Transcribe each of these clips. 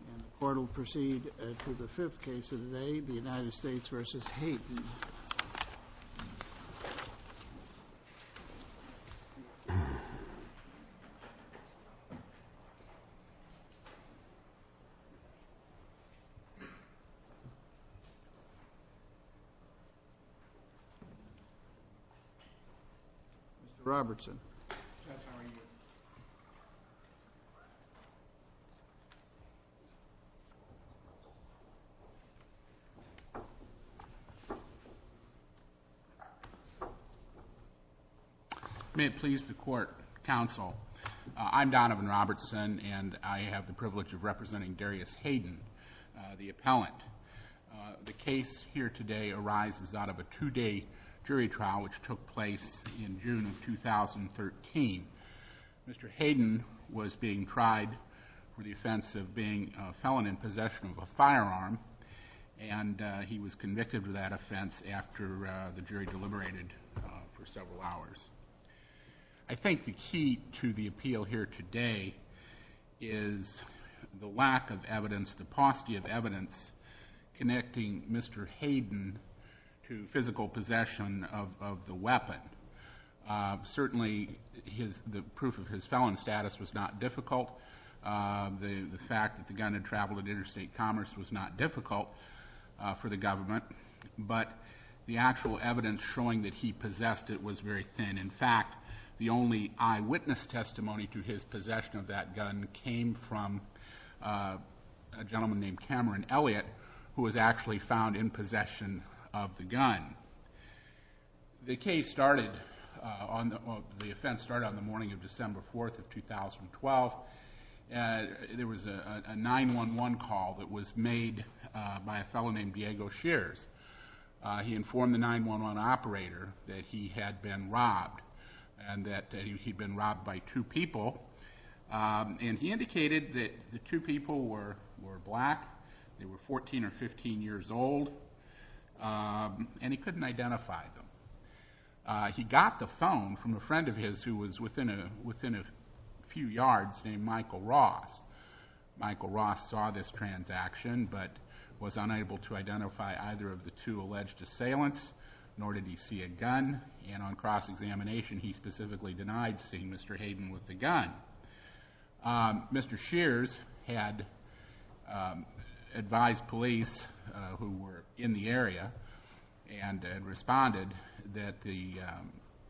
The court will proceed to the fifth case of the day, the United States v. Hayden. Mr. Robertson. May it please the court, counsel. I'm Donovan Robertson, and I have the privilege of representing Darrius Hayden, the appellant. The case here today arises out of a two-day jury trial which took place in June of 2013. Mr. Hayden was being tried for the offense of being a felon in possession of a firearm, and he was convicted of that offense after the jury deliberated for several hours. I think the key to the appeal here today is the lack of evidence, the paucity of evidence, connecting Mr. Hayden to physical possession of the weapon. Certainly, the proof of his felon status was not difficult. The fact that the gun had traveled in interstate commerce was not difficult for the government, but the actual evidence showing that he possessed it was very thin. In fact, the only eyewitness testimony to his possession of that gun came from a gentleman named Cameron Elliott, who was actually found in possession of the gun. The offense started on the morning of December 4th of 2012. There was a 911 call that was made by a fellow named Diego Shears. He informed the 911 operator that he had been robbed and that he had been robbed by two people, and he indicated that the two people were black, they were 14 or 15 years old, and he couldn't identify them. He got the phone from a friend of his who was within a few yards named Michael Ross. Michael Ross saw this transaction but was unable to identify either of the two alleged assailants, nor did he see a gun, and on cross-examination he specifically denied seeing Mr. Hayden with the gun. Mr. Shears had advised police who were in the area and had responded that the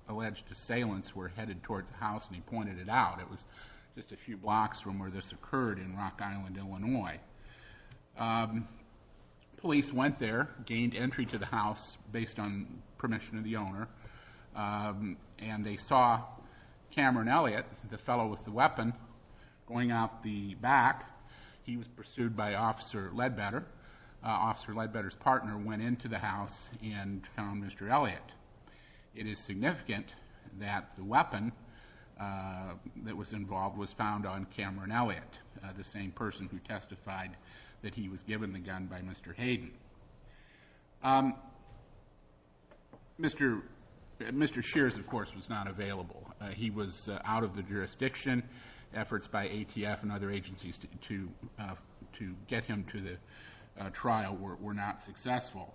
alleged assailants were headed towards the house, and he pointed it out. It was just a few blocks from where this occurred in Rock Island, Illinois. Police went there, gained entry to the house based on permission of the owner, and they saw Cameron Elliott, the fellow with the weapon, going out the back. He was pursued by Officer Ledbetter. Officer Ledbetter's partner went into the house and found Mr. Elliott. It is significant that the weapon that was involved was found on Cameron Elliott, the same person who testified that he was given the gun by Mr. Hayden. Mr. Shears, of course, was not available. He was out of the jurisdiction. Efforts by ATF and other agencies to get him to the trial were not successful.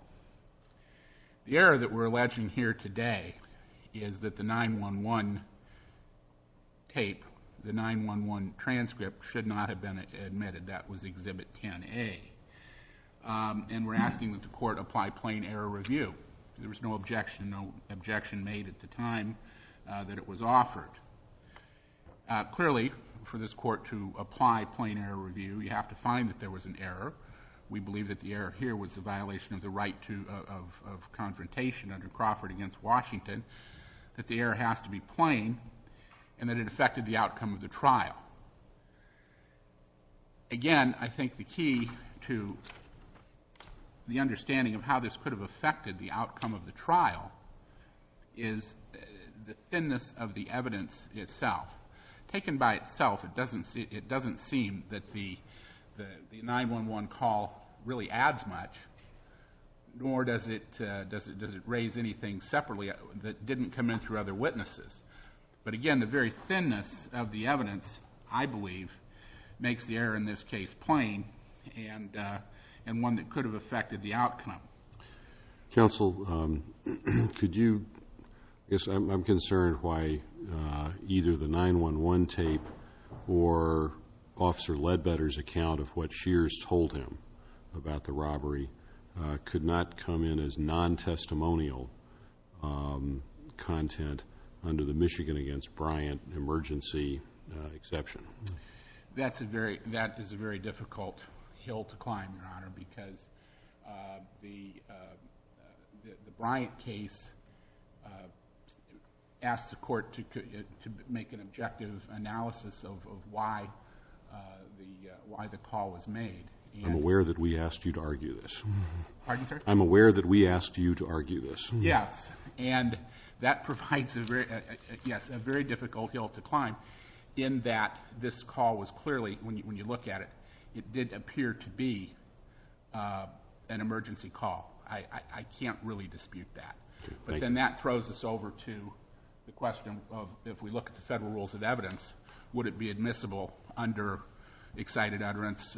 The error that we're alleging here today is that the 9-1-1 tape, the 9-1-1 transcript, should not have been admitted. That was Exhibit 10-A. And we're asking that the court apply plain error review. There was no objection made at the time that it was offered. Clearly, for this court to apply plain error review, you have to find that there was an error. We believe that the error here was the violation of the right of confrontation under Crawford against Washington, that the error has to be plain, and that it affected the outcome of the trial. Again, I think the key to the understanding of how this could have affected the outcome of the trial is the thinness of the evidence itself. Taken by itself, it doesn't seem that the 9-1-1 call really adds much, nor does it raise anything separately that didn't come in through other witnesses. But, again, the very thinness of the evidence, I believe, makes the error in this case plain and one that could have affected the outcome. Counsel, could you, I guess I'm concerned why either the 9-1-1 tape or Officer Ledbetter's account of what Shears told him about the robbery could not come in as non-testimonial content under the Michigan against Bryant emergency exception? That is a very difficult hill to climb, Your Honor, because the Bryant case asked the court to make an objective analysis of why the call was made. I'm aware that we asked you to argue this. Pardon, sir? I'm aware that we asked you to argue this. Yes, and that provides a very difficult hill to climb in that this call was clearly, when you look at it, it did appear to be an emergency call. I can't really dispute that. But then that throws us over to the question of if we look at the federal rules of evidence, would it be admissible under excited utterance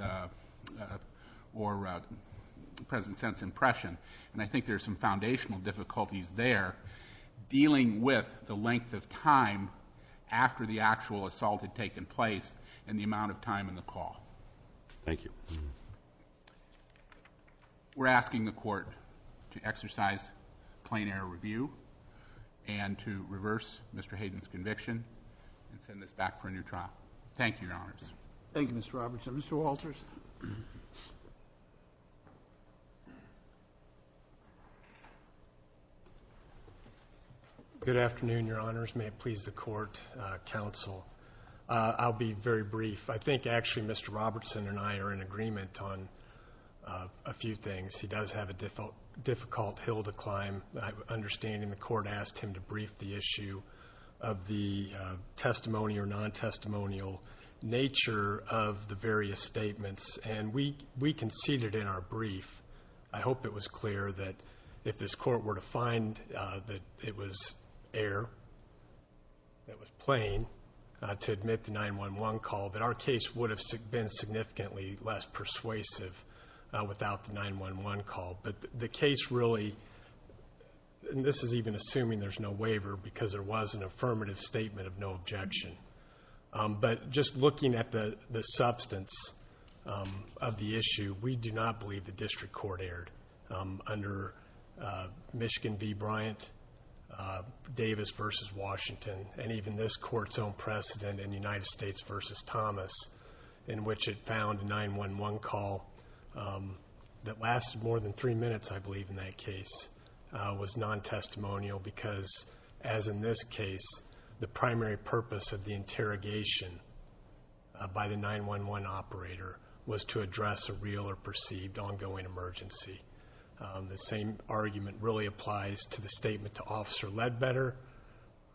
or present sense impression? And I think there's some foundational difficulties there. Dealing with the length of time after the actual assault had taken place and the amount of time in the call. Thank you. We're asking the court to exercise plain error review and to reverse Mr. Hayden's conviction and send this back for a new trial. Thank you, Your Honors. Thank you, Mr. Robertson. Mr. Walters. Good afternoon, Your Honors. May it please the court, counsel. I'll be very brief. I think actually Mr. Robertson and I are in agreement on a few things. He does have a difficult hill to climb. I have an understanding the court asked him to brief the issue of the testimony or non-testimonial nature of the various statements, and we conceded in our brief. I hope it was clear that if this court were to find that it was air, it was plain to admit the 911 call, that our case would have been significantly less persuasive without the 911 call. But the case really, and this is even assuming there's no waiver because there was an affirmative statement of no objection. But just looking at the substance of the issue, we do not believe the district court aired under Michigan v. Bryant, Davis v. Washington, and even this court's own precedent in United States v. Thomas, in which it found a 911 call that lasted more than three minutes, I believe, in that case, was non-testimonial because, as in this case, the primary purpose of the interrogation by the 911 operator was to address a real or perceived ongoing emergency. The same argument really applies to the statement to Officer Ledbetter,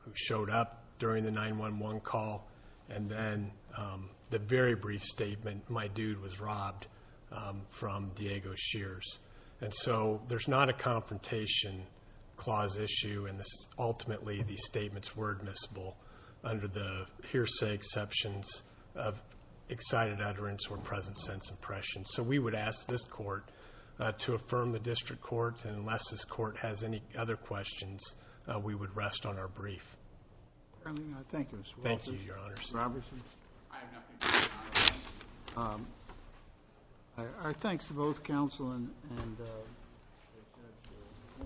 who showed up during the 911 call, and then the very brief statement, my dude was robbed, from Diego Shears. And so there's not a confrontation clause issue, and ultimately these statements were admissible under the hearsay exceptions of excited utterance or present sense impression. So we would ask this court to affirm the district court, and unless this court has any other questions, we would rest on our brief. Thank you, Mr. Walters. Thank you, Your Honors. Robertson? I have nothing to add. Our thanks to both counsel and the judge. We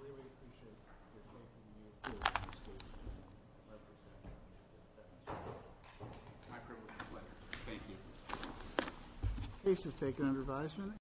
really appreciate your taking the opportunity to speak. My pleasure. My privilege as well. Thank you. The case is taken under advisement.